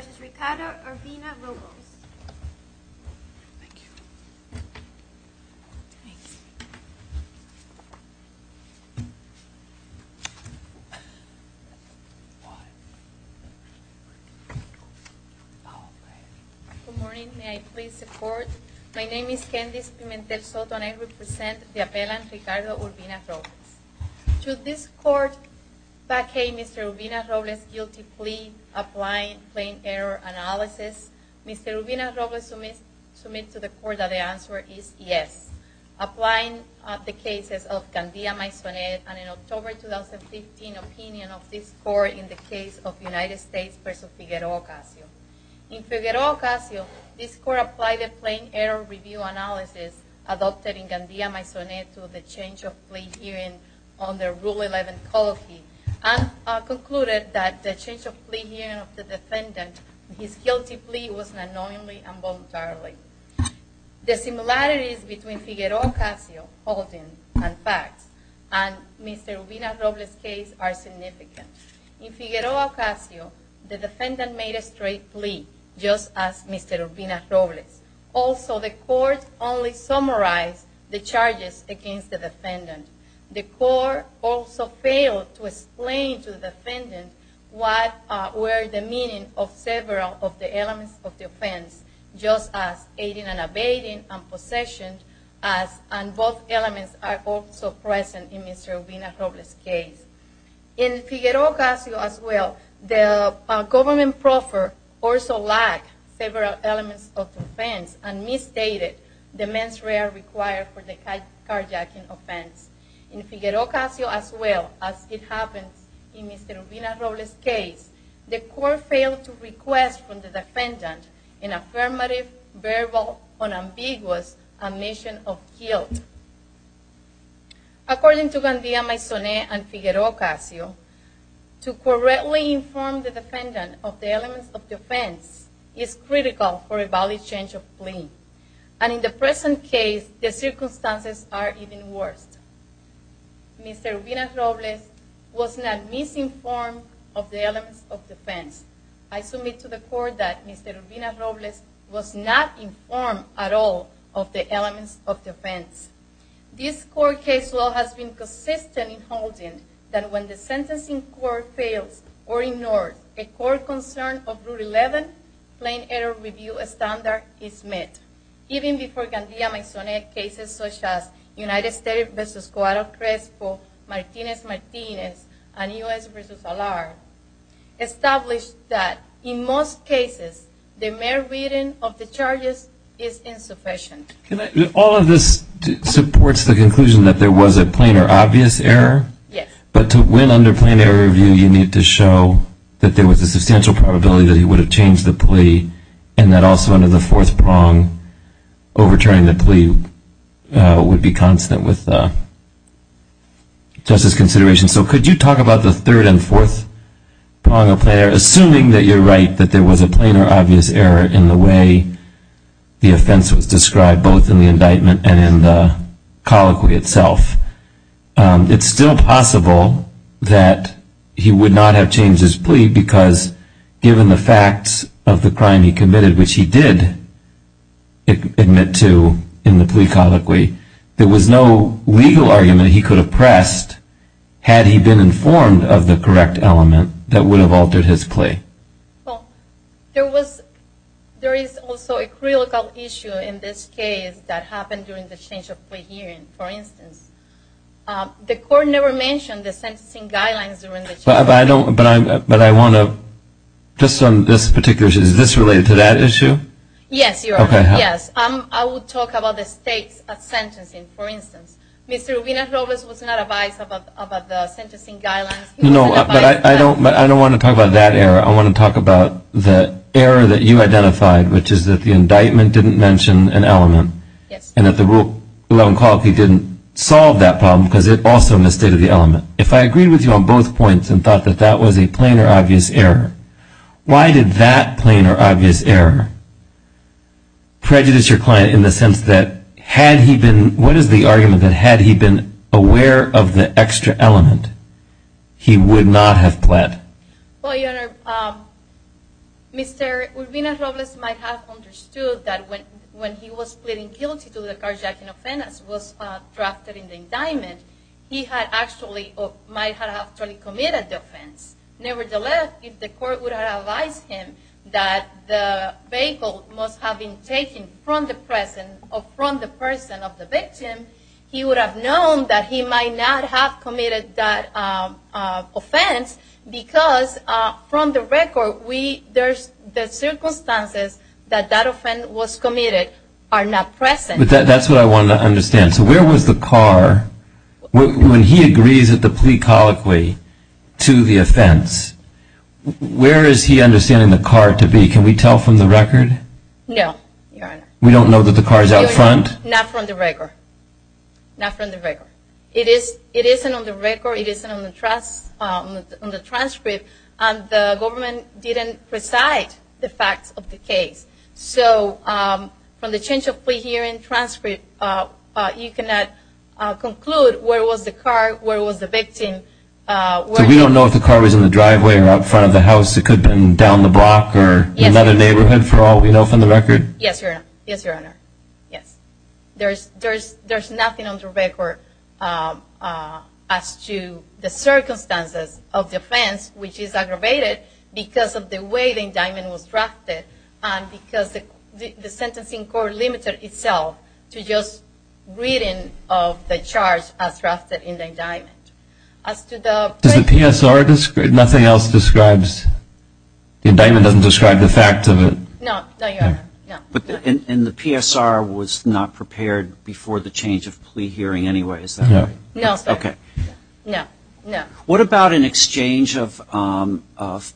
v. Ricardo Urbina-Robles Good morning, may I please support? My name is Candice Pimentel Soto and I represent the appellant Ricardo Urbina-Robles. Should this court vacate Mr. Urbina-Robles' guilty plea applying plain error analysis? Mr. Urbina-Robles submits to the court that the answer is yes. Applying the cases of Gandia-Maisonet and in October 2015 opinion of this court in the case of United States v. Figueroa-Casio. In Figueroa-Casio, this court applied the plain error review analysis adopted in Gandia-Maisonet to the change of plea hearing on the Rule 11 Coloquy. And concluded that the change of plea hearing of the defendant, his guilty plea, was unknowingly and voluntarily. The similarities between Figueroa-Casio holding and facts in Mr. Urbina-Robles' case are significant. In Figueroa-Casio, the defendant made a straight plea just as Mr. Urbina-Robles. Also, the court only summarized the charges against the defendant. The court also failed to explain to the defendant what were the meaning of several of the elements of the offense, just as aiding and abetting and possession, and both elements are also present in Mr. Urbina-Robles' case. In Figueroa-Casio as well, the government proffer also lacked several elements of the offense and misstated the mens rea required for the carjacking offense. In Figueroa-Casio as well, as it happens in Mr. Urbina-Robles' case, the court failed to request from the defendant an affirmative verbal unambiguous admission of guilt. According to Gandia Maisonet and Figueroa-Casio, to correctly inform the defendant of the elements of the offense is critical for a valid change of plea. And in the present case, the circumstances are even worse. Mr. Urbina-Robles was not misinformed of the elements of the offense. I submit to the court that Mr. Urbina-Robles was not informed at all of the elements of the offense. This court case law has been consistent in holding that when the sentencing court fails or ignores a court concern of Rule 11, Plain Error Review Standard is met. Even before Gandia Maisonet, cases such as United States v. Guadalcresco, Martinez-Martinez, and U.S. v. Alar established that in most cases the mere reading of the charges is insufficient. All of this supports the conclusion that there was a plain or obvious error? Yes. But to win under Plain Error Review, you need to show that there was a substantial probability that he would have changed the plea and that also under the fourth prong overturning the plea would be constant with justice consideration. So could you talk about the third and fourth prong of Plain Error? Assuming that you're right that there was a plain or obvious error in the way the offense was described both in the indictment and in the colloquy itself, it's still possible that he would not have changed his plea because given the facts of the crime he committed, which he did admit to in the plea colloquy, there was no legal argument he could have pressed had he been informed of the correct element that would have altered his plea. Well, there is also a critical issue in this case that happened during the change of plea hearing, for instance. The court never mentioned the sentencing guidelines during the change of plea hearing. But I want to, just on this particular issue, is this related to that issue? Yes. Okay. Yes. I would talk about the stakes of sentencing, for instance. Mr. Rubino-Roberts was not advised about the sentencing guidelines. No, but I don't want to talk about that error. I want to talk about the error that you identified, which is that the indictment didn't mention an element. Yes. And that the rule in the colloquy didn't solve that problem because it also misstated the element. If I agreed with you on both points and thought that that was a plain or obvious error, why did that plain or obvious error prejudice your client in the sense that had he been, what is the argument that had he been aware of the extra element, he would not have pled? Well, Your Honor, Mr. Rubino-Roberts might have understood that when he was pleading guilty to the carjacking offense, was drafted in the indictment, he might have actually committed the offense. Nevertheless, if the court would have advised him that the vehicle must have been taken from the person of the victim, he would have known that he might not have committed that offense because, from the record, the circumstances that that offense was committed are not present. But that's what I want to understand. So where was the car, when he agrees at the plea colloquy to the offense, where is he understanding the car to be? Can we tell from the record? No, Your Honor. We don't know that the car is out front? Not from the record. Not from the record. It isn't on the record. It isn't on the transcript. And the government didn't recite the facts of the case. So from the change of plea hearing transcript, you cannot conclude where was the car, where was the victim. So we don't know if the car was in the driveway or out front of the house. It could have been down the block or another neighborhood for all we know from the record? Yes, Your Honor. Yes, Your Honor. Yes. There's nothing on the record as to the circumstances of the offense, which is aggravated because of the way the indictment was drafted and because the sentencing court limited itself to just reading of the charge as drafted in the indictment. Does the PSR, nothing else describes, the indictment doesn't describe the facts of it? No, Your Honor, no. And the PSR was not prepared before the change of plea hearing anyway, is that right? No. Okay. No, no. What about an exchange of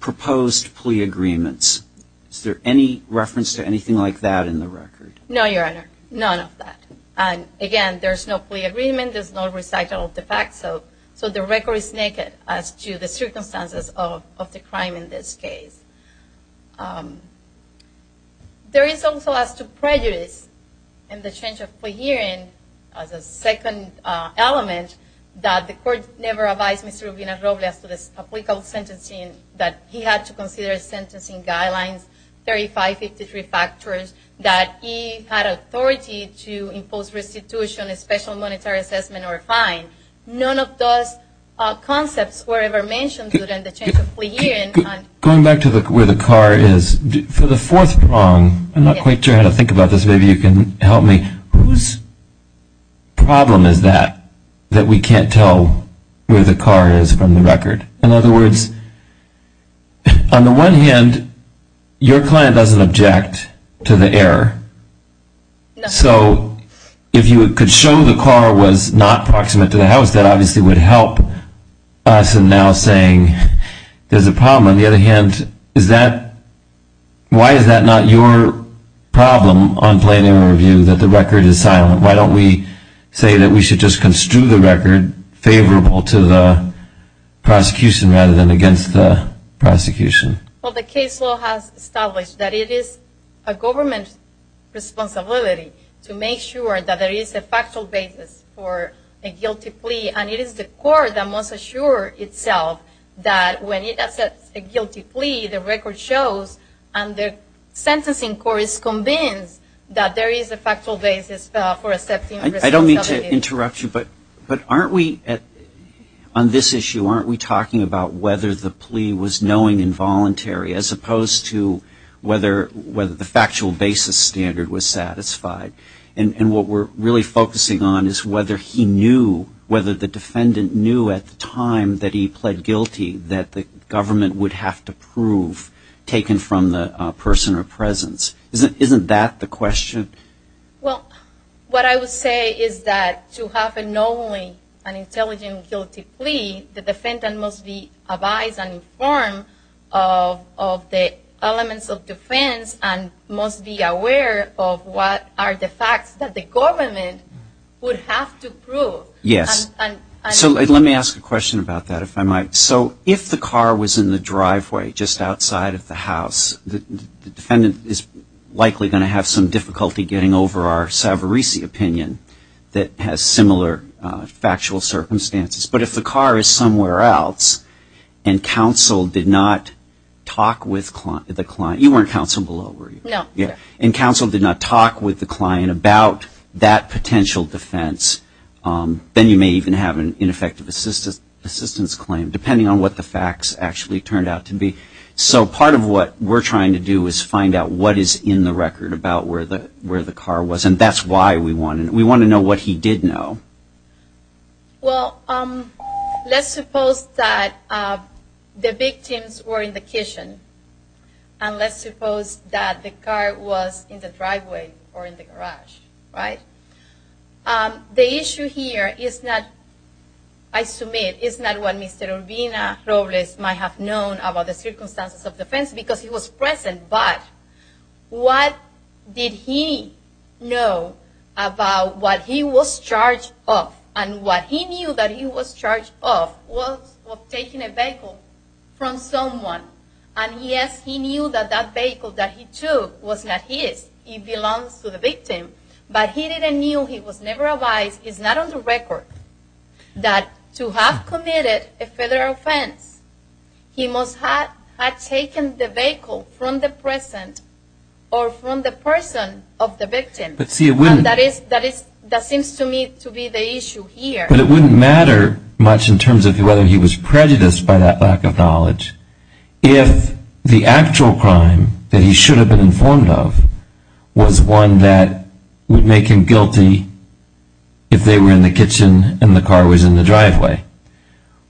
proposed plea agreements? Is there any reference to anything like that in the record? No, Your Honor, none of that. And again, there's no plea agreement. There's no recital of the facts. So the record is naked as to the circumstances of the crime in this case. There is also as to prejudice in the change of plea hearing as a second element that the court never advised Mr. Rubin and Roble as to the applicable sentencing that he had to consider sentencing guidelines, 3553 factors, that he had authority to impose restitution, a special monetary assessment, or a fine. None of those concepts were ever mentioned during the change of plea hearing. Going back to where the car is, for the fourth prong, I'm not quite sure how to think about this. Maybe you can help me. Whose problem is that, that we can't tell where the car is from the record? In other words, on the one hand, your client doesn't object to the error. So if you could show the car was not proximate to the house, that obviously would help us in now saying there's a problem. On the other hand, why is that not your problem on plain error view that the record is silent? Why don't we say that we should just construe the record favorable to the prosecution rather than against the prosecution? Well, the case law has established that it is a government responsibility to make sure that there is a factual basis for a guilty plea, and it is the court that must assure itself that when it accepts a guilty plea, the record shows and the sentencing court is convinced that there is a factual basis for accepting responsibility. I don't mean to interrupt you, but aren't we, on this issue, aren't we talking about whether the plea was knowing involuntary as opposed to whether the factual basis standard was satisfied? And what we're really focusing on is whether he knew, whether the defendant knew at the time that he pled guilty that the government would have to prove taken from the person or presence. Isn't that the question? Well, what I would say is that to have a knowing and intelligent guilty plea, the defendant must be advised and informed of the elements of defense and must be aware of what are the facts that the government would have to prove. Yes. So let me ask a question about that, if I might. So if the car was in the driveway just outside of the house, the defendant is likely going to have some difficulty getting over our Savarese opinion that has similar factual circumstances. But if the car is somewhere else and counsel did not talk with the client, you weren't counsel below, were you? No. And counsel did not talk with the client about that potential defense, then you may even have an ineffective assistance claim, depending on what the facts actually turned out to be. So part of what we're trying to do is find out what is in the record about where the car was, and that's why we want to know what he did know. Well, let's suppose that the victims were in the kitchen, and let's suppose that the car was in the driveway or in the garage, right? The issue here is not, I submit, is not what Mr. Urbina-Robles might have known about the circumstances of defense because he was present, but what did he know about what he was charged of? And what he knew that he was charged of was of taking a vehicle from someone. And yes, he knew that that vehicle that he took was not his. It belongs to the victim. But he didn't know, he was never advised, it's not on the record, that to have committed a federal offense, he must have taken the vehicle from the present or from the person of the victim. And that seems to me to be the issue here. But it wouldn't matter much in terms of whether he was prejudiced by that lack of knowledge if the actual crime that he should have been informed of was one that would make him guilty if they were in the kitchen and the car was in the driveway.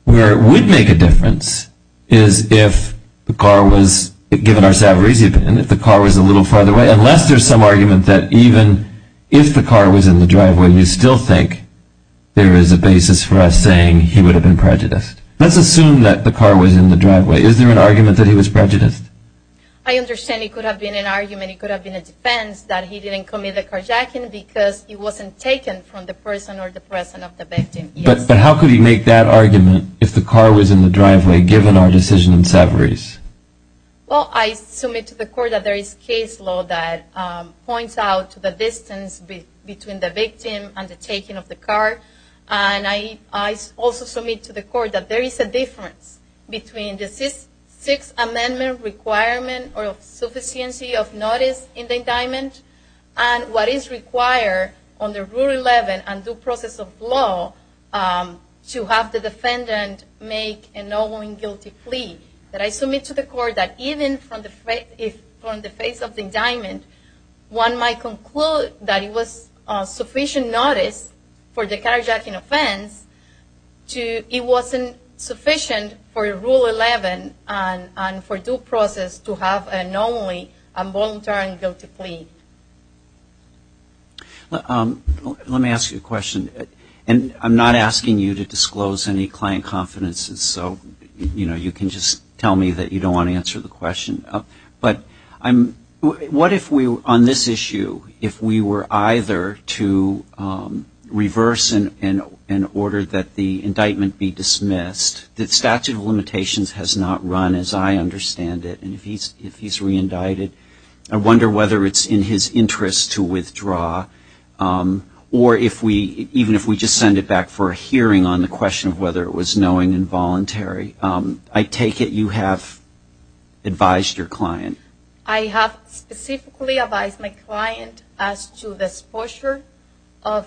Where it would make a difference is if the car was, given our savories even, if the car was a little farther away, unless there's some argument that even if the car was in the driveway, we still think there is a basis for us saying he would have been prejudiced. Let's assume that the car was in the driveway. Is there an argument that he was prejudiced? I understand it could have been an argument, it could have been a defense, that he didn't commit the carjacking because he wasn't taken from the person or the person of the victim. But how could he make that argument if the car was in the driveway, given our decision in savories? Well, I submit to the court that there is case law that points out the distance between the victim and the taking of the car. And I also submit to the court that there is a difference between the Sixth Amendment requirement or sufficiency of notice in the indictment and what is required under Rule 11 and due process of law to have the defendant make an all-women guilty plea. But I submit to the court that even from the face of the indictment, one might conclude that it was sufficient notice for the carjacking offense, it wasn't sufficient for Rule 11 and for due process to have an only and voluntary guilty plea. Let me ask you a question. And I'm not asking you to disclose any client confidences, so you can just tell me that you don't want to answer the question. But what if on this issue, if we were either to reverse in order that the indictment be dismissed, the statute of limitations has not run as I understand it, and if he's reindicted, I wonder whether it's in his interest to withdraw, or even if we just send it back for a hearing on the question of whether it was knowing and voluntary. I take it you have advised your client. I have specifically advised my client as to the posture of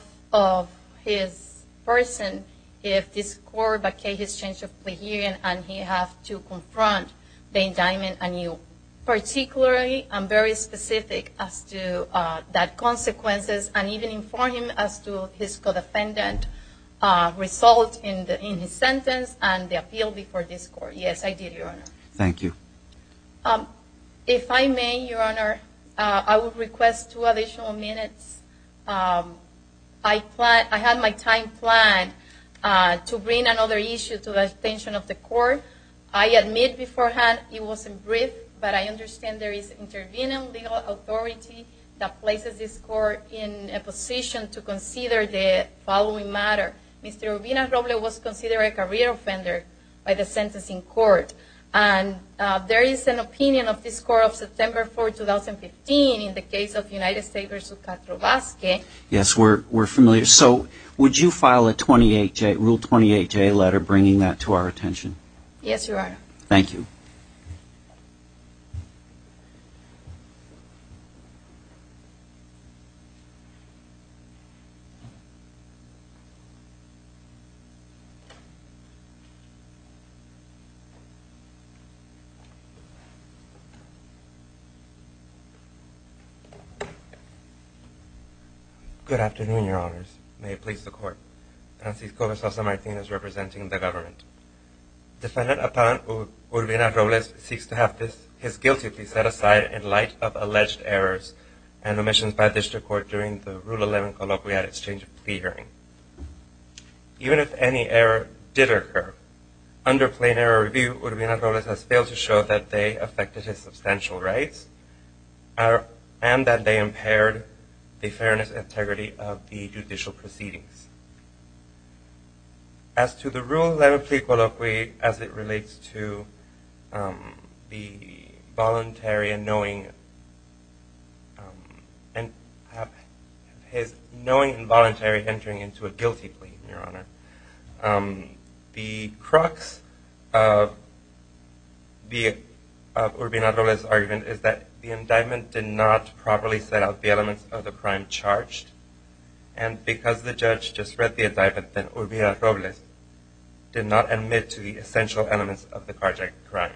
his person if this court vacates his change of plea hearing, and he has to confront the indictment anew. Particularly, I'm very specific as to that consequences, and even inform him as to his co-defendant result in his sentence and the appeal before this court. Yes, I did, Your Honor. If I may, Your Honor, I would request two additional minutes. I had my time planned to bring another issue to the attention of the court. I admit beforehand it wasn't brief, but I understand there is intervening legal authority that places this court in a position to consider the following matter. Mr. Rubina-Roble was considered a career offender by the sentencing court, and there is an opinion of this court of September 4, 2015 in the case of United States v. Katlovski. Yes, we're familiar. So would you file a Rule 28J letter bringing that to our attention? Yes, Your Honor. Thank you. Thank you. Good afternoon, Your Honors. May it please the Court. Defendant upon Urbina-Roble seeks to have his guilty plea set aside in light of alleged errors and omissions by district court during the Rule 11 Colloquial Exchange plea hearing. Even if any error did occur, under plain error review, Urbina-Roble has failed to show that they affected his substantial rights, and that they impaired the fairness and integrity of the judicial proceedings. As to the Rule 11 plea colloquy as it relates to his knowing and voluntary entering into a guilty plea, the crux of Urbina-Roble's argument is that he was not aware that the indictment did not properly set out the elements of the crime charged, and because the judge just read the indictment, then Urbina-Roble did not admit to the essential elements of the carjacking crime.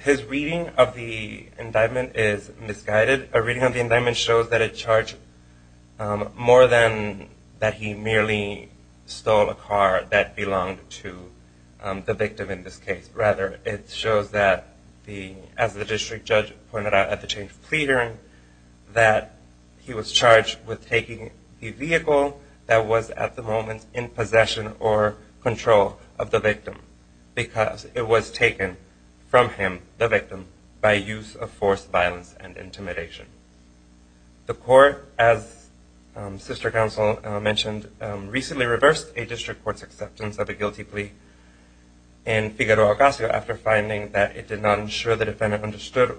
His reading of the indictment is misguided. A reading of the indictment shows that it charged more than that he merely stole a car that belonged to the victim in this case. Rather, it shows that, as the district judge pointed out at the change of plea hearing, that he was charged with taking the vehicle that was at the moment in possession or control of the victim, because it was taken from him, the victim, by use of force, violence, and intimidation. The court, as Sister Counsel mentioned, recently reversed a district court's acceptance of a guilty plea in Figueroa-Casio after finding that it did not ensure the defendant understood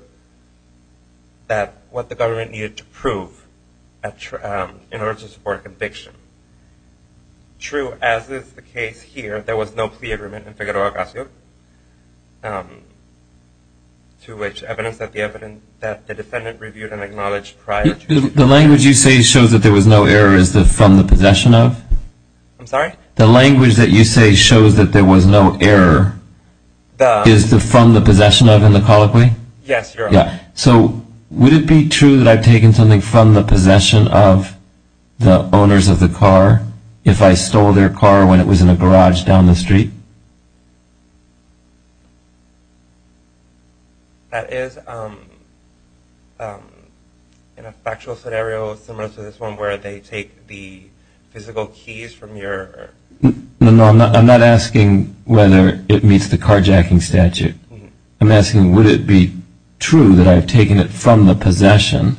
what the government needed to prove in order to support a conviction. True, as is the case here, there was no plea agreement in Figueroa-Casio, to which evidence that the defendant reviewed and acknowledged prior to the trial. The language you say shows that there was no error is from the possession of? I'm sorry? The language that you say shows that there was no error is from the possession of in the colloquy? Yes, Your Honor. So, would it be true that I've taken something from the possession of the owners of the car if I stole their car when it was in a garage down the street? That is, in a factual scenario similar to this one, where they take the physical keys from your... No, I'm not asking whether it meets the carjacking statute. I'm asking would it be true that I've taken it from the possession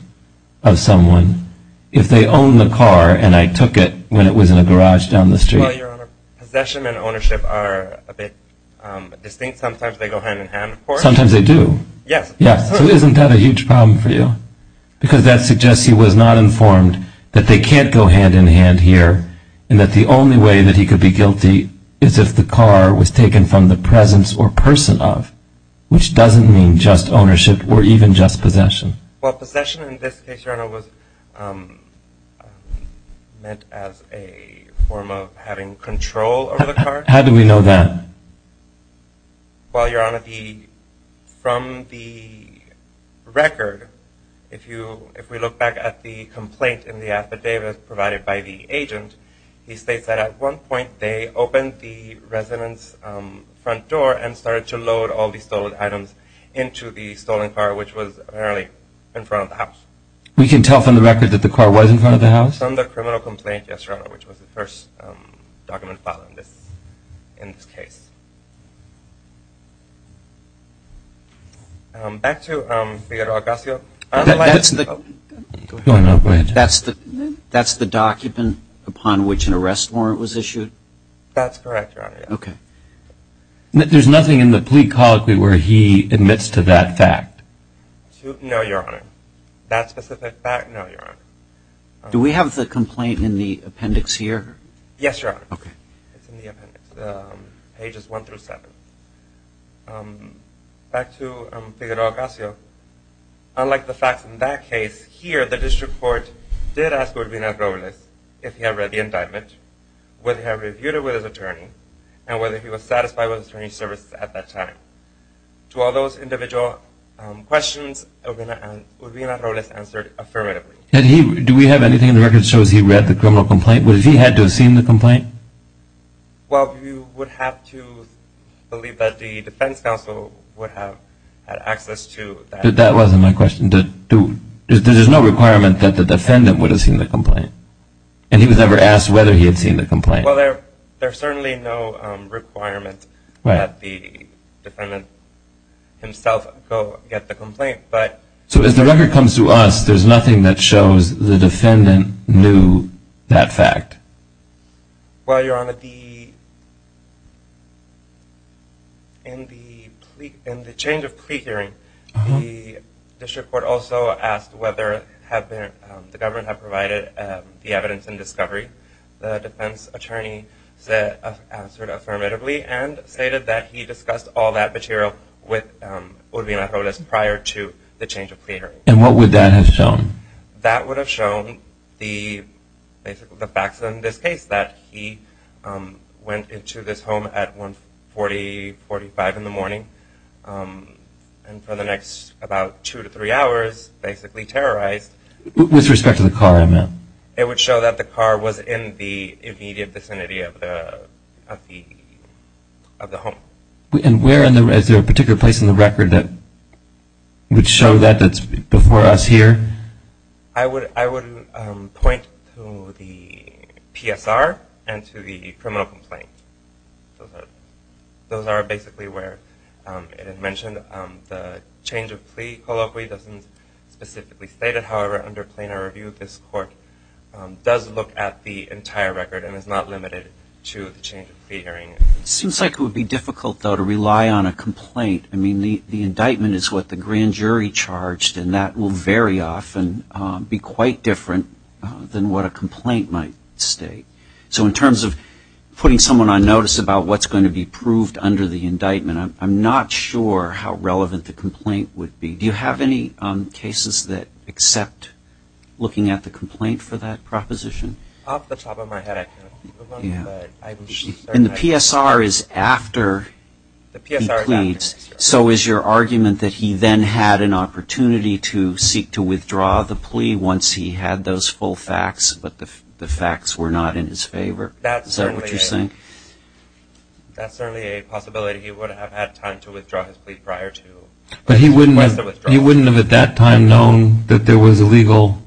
of someone if they own the car and I took it when it was in a garage down the street? Well, Your Honor, possession and ownership are a bit distinct. Sometimes they go hand in hand, of course. Sometimes they do? Yes. Yes, so isn't that a huge problem for you? Because that suggests he was not informed that they can't go hand in hand here and that the only way that he could be guilty is if the car was taken from the presence or person of, which doesn't mean just ownership or even just possession. Well, possession in this case, Your Honor, was meant as a form of having control over the car. How do we know that? Well, Your Honor, from the record, if we look back at the complaint in the affidavit provided by the agent, he states that at one point they opened the resident's front door and started to load all the stolen items into the stolen car, which was apparently in front of the house. We can tell from the record that the car was in front of the house? From the criminal complaint, yes, Your Honor, which was the first document filed in this case. Back to Figueroa-Casio. That's the document upon which an arrest warrant was issued? That's correct, Your Honor. There's nothing in the plea colloquy where he admits to that fact? No, Your Honor. Do we have the complaint in the appendix here? Yes, Your Honor. Back to Figueroa-Casio. Unlike the facts in that case, here the district court did ask Urbina-Robles if he had read the indictment, whether he had reviewed it with his attorney, and whether he was satisfied with his attorney's services at that time. To all those individual questions, Urbina-Robles answered affirmatively. Do we have anything in the record that shows he read the criminal complaint? Well, you would have to believe that the defense counsel would have had access to that. But that wasn't my question. There's no requirement that the defendant would have seen the complaint, and he was never asked whether he had seen the complaint. Well, there's certainly no requirement that the defendant himself go get the complaint. So as the record comes to us, there's nothing that shows the defendant knew that fact? Well, Your Honor, in the change of plea hearing, the district court also asked whether the government had provided the evidence in discovery. The defense attorney answered affirmatively and stated that he discussed all that material with Urbina-Robles prior to the change of plea hearing. And what would that have shown? That would have shown the facts in this case, that he went into this home at 140, 45 in the morning, and for the next about two to three hours basically terrorized. With respect to the car, I meant? It would show that the car was in the immediate vicinity of the home. Is there a particular place in the record that would show that, that's before us here? I would point to the PSR and to the criminal complaint. Those are basically where it is mentioned. The change of plea colloquy doesn't specifically state it. However, under plainer review, this court does look at the entire record and is not limited to the change of plea hearing. It seems like it would be difficult, though, to rely on a complaint. I mean, the indictment is what the grand jury charged, and that will very often be quite different than what a complaint might state. So in terms of putting someone on notice about what's going to be proved under the indictment, I'm not sure how relevant the complaint would be. Do you have any cases that accept looking at the complaint for that proposition? Off the top of my head, I can't think of one. And the PSR is after he pleads. He pleads. So is your argument that he then had an opportunity to seek to withdraw the plea once he had those full facts, but the facts were not in his favor? Is that what you're saying? That's certainly a possibility. He would have had time to withdraw his plea prior to request the withdrawal. But he wouldn't have at that time known that there was a legal...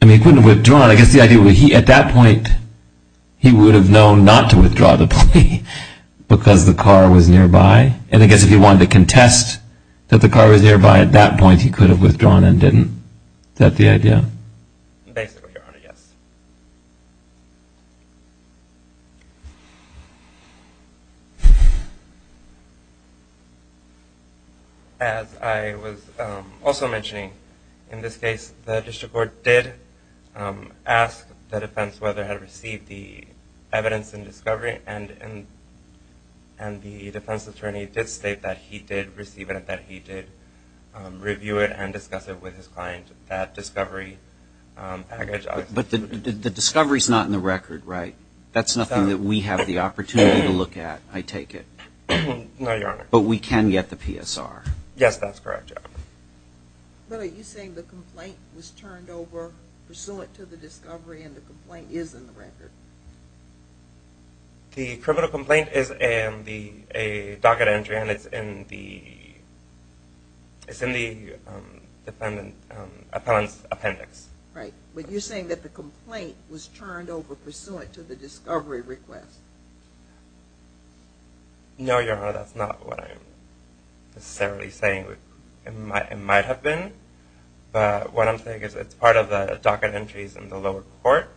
I mean, he couldn't have withdrawn. I guess the idea would be, at that point, he would have known not to withdraw the plea because the car was nearby. And I guess if he wanted to contest that the car was nearby at that point, he could have withdrawn and didn't. Is that the idea? Basically, Your Honor, yes. As I was also mentioning, in this case, the district court did ask the defense whether it had received the evidence in discovery, and the defense attorney did state that he did receive it and that he did review it and discuss it with his client. But the discovery is not in the record, right? That's nothing that we have the opportunity to look at, I take it. But we can get the PSR. But are you saying the complaint was turned over pursuant to the discovery and the complaint is in the record? The criminal complaint is in the docket entry and it's in the appellant's appendix. Right. But you're saying that the complaint was turned over pursuant to the discovery request. No, Your Honor, that's not what I'm necessarily saying. It might have been. But what I'm saying is it's part of the docket entries in the lower court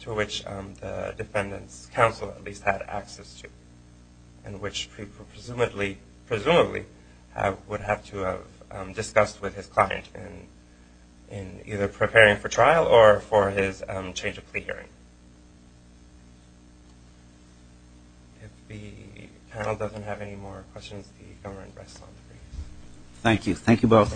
to which the defendant's counsel at least had access to and which presumably would have to have discussed with his client in either preparing for trial or for his change of plea hearing. If the panel has any questions, please do. Thank you.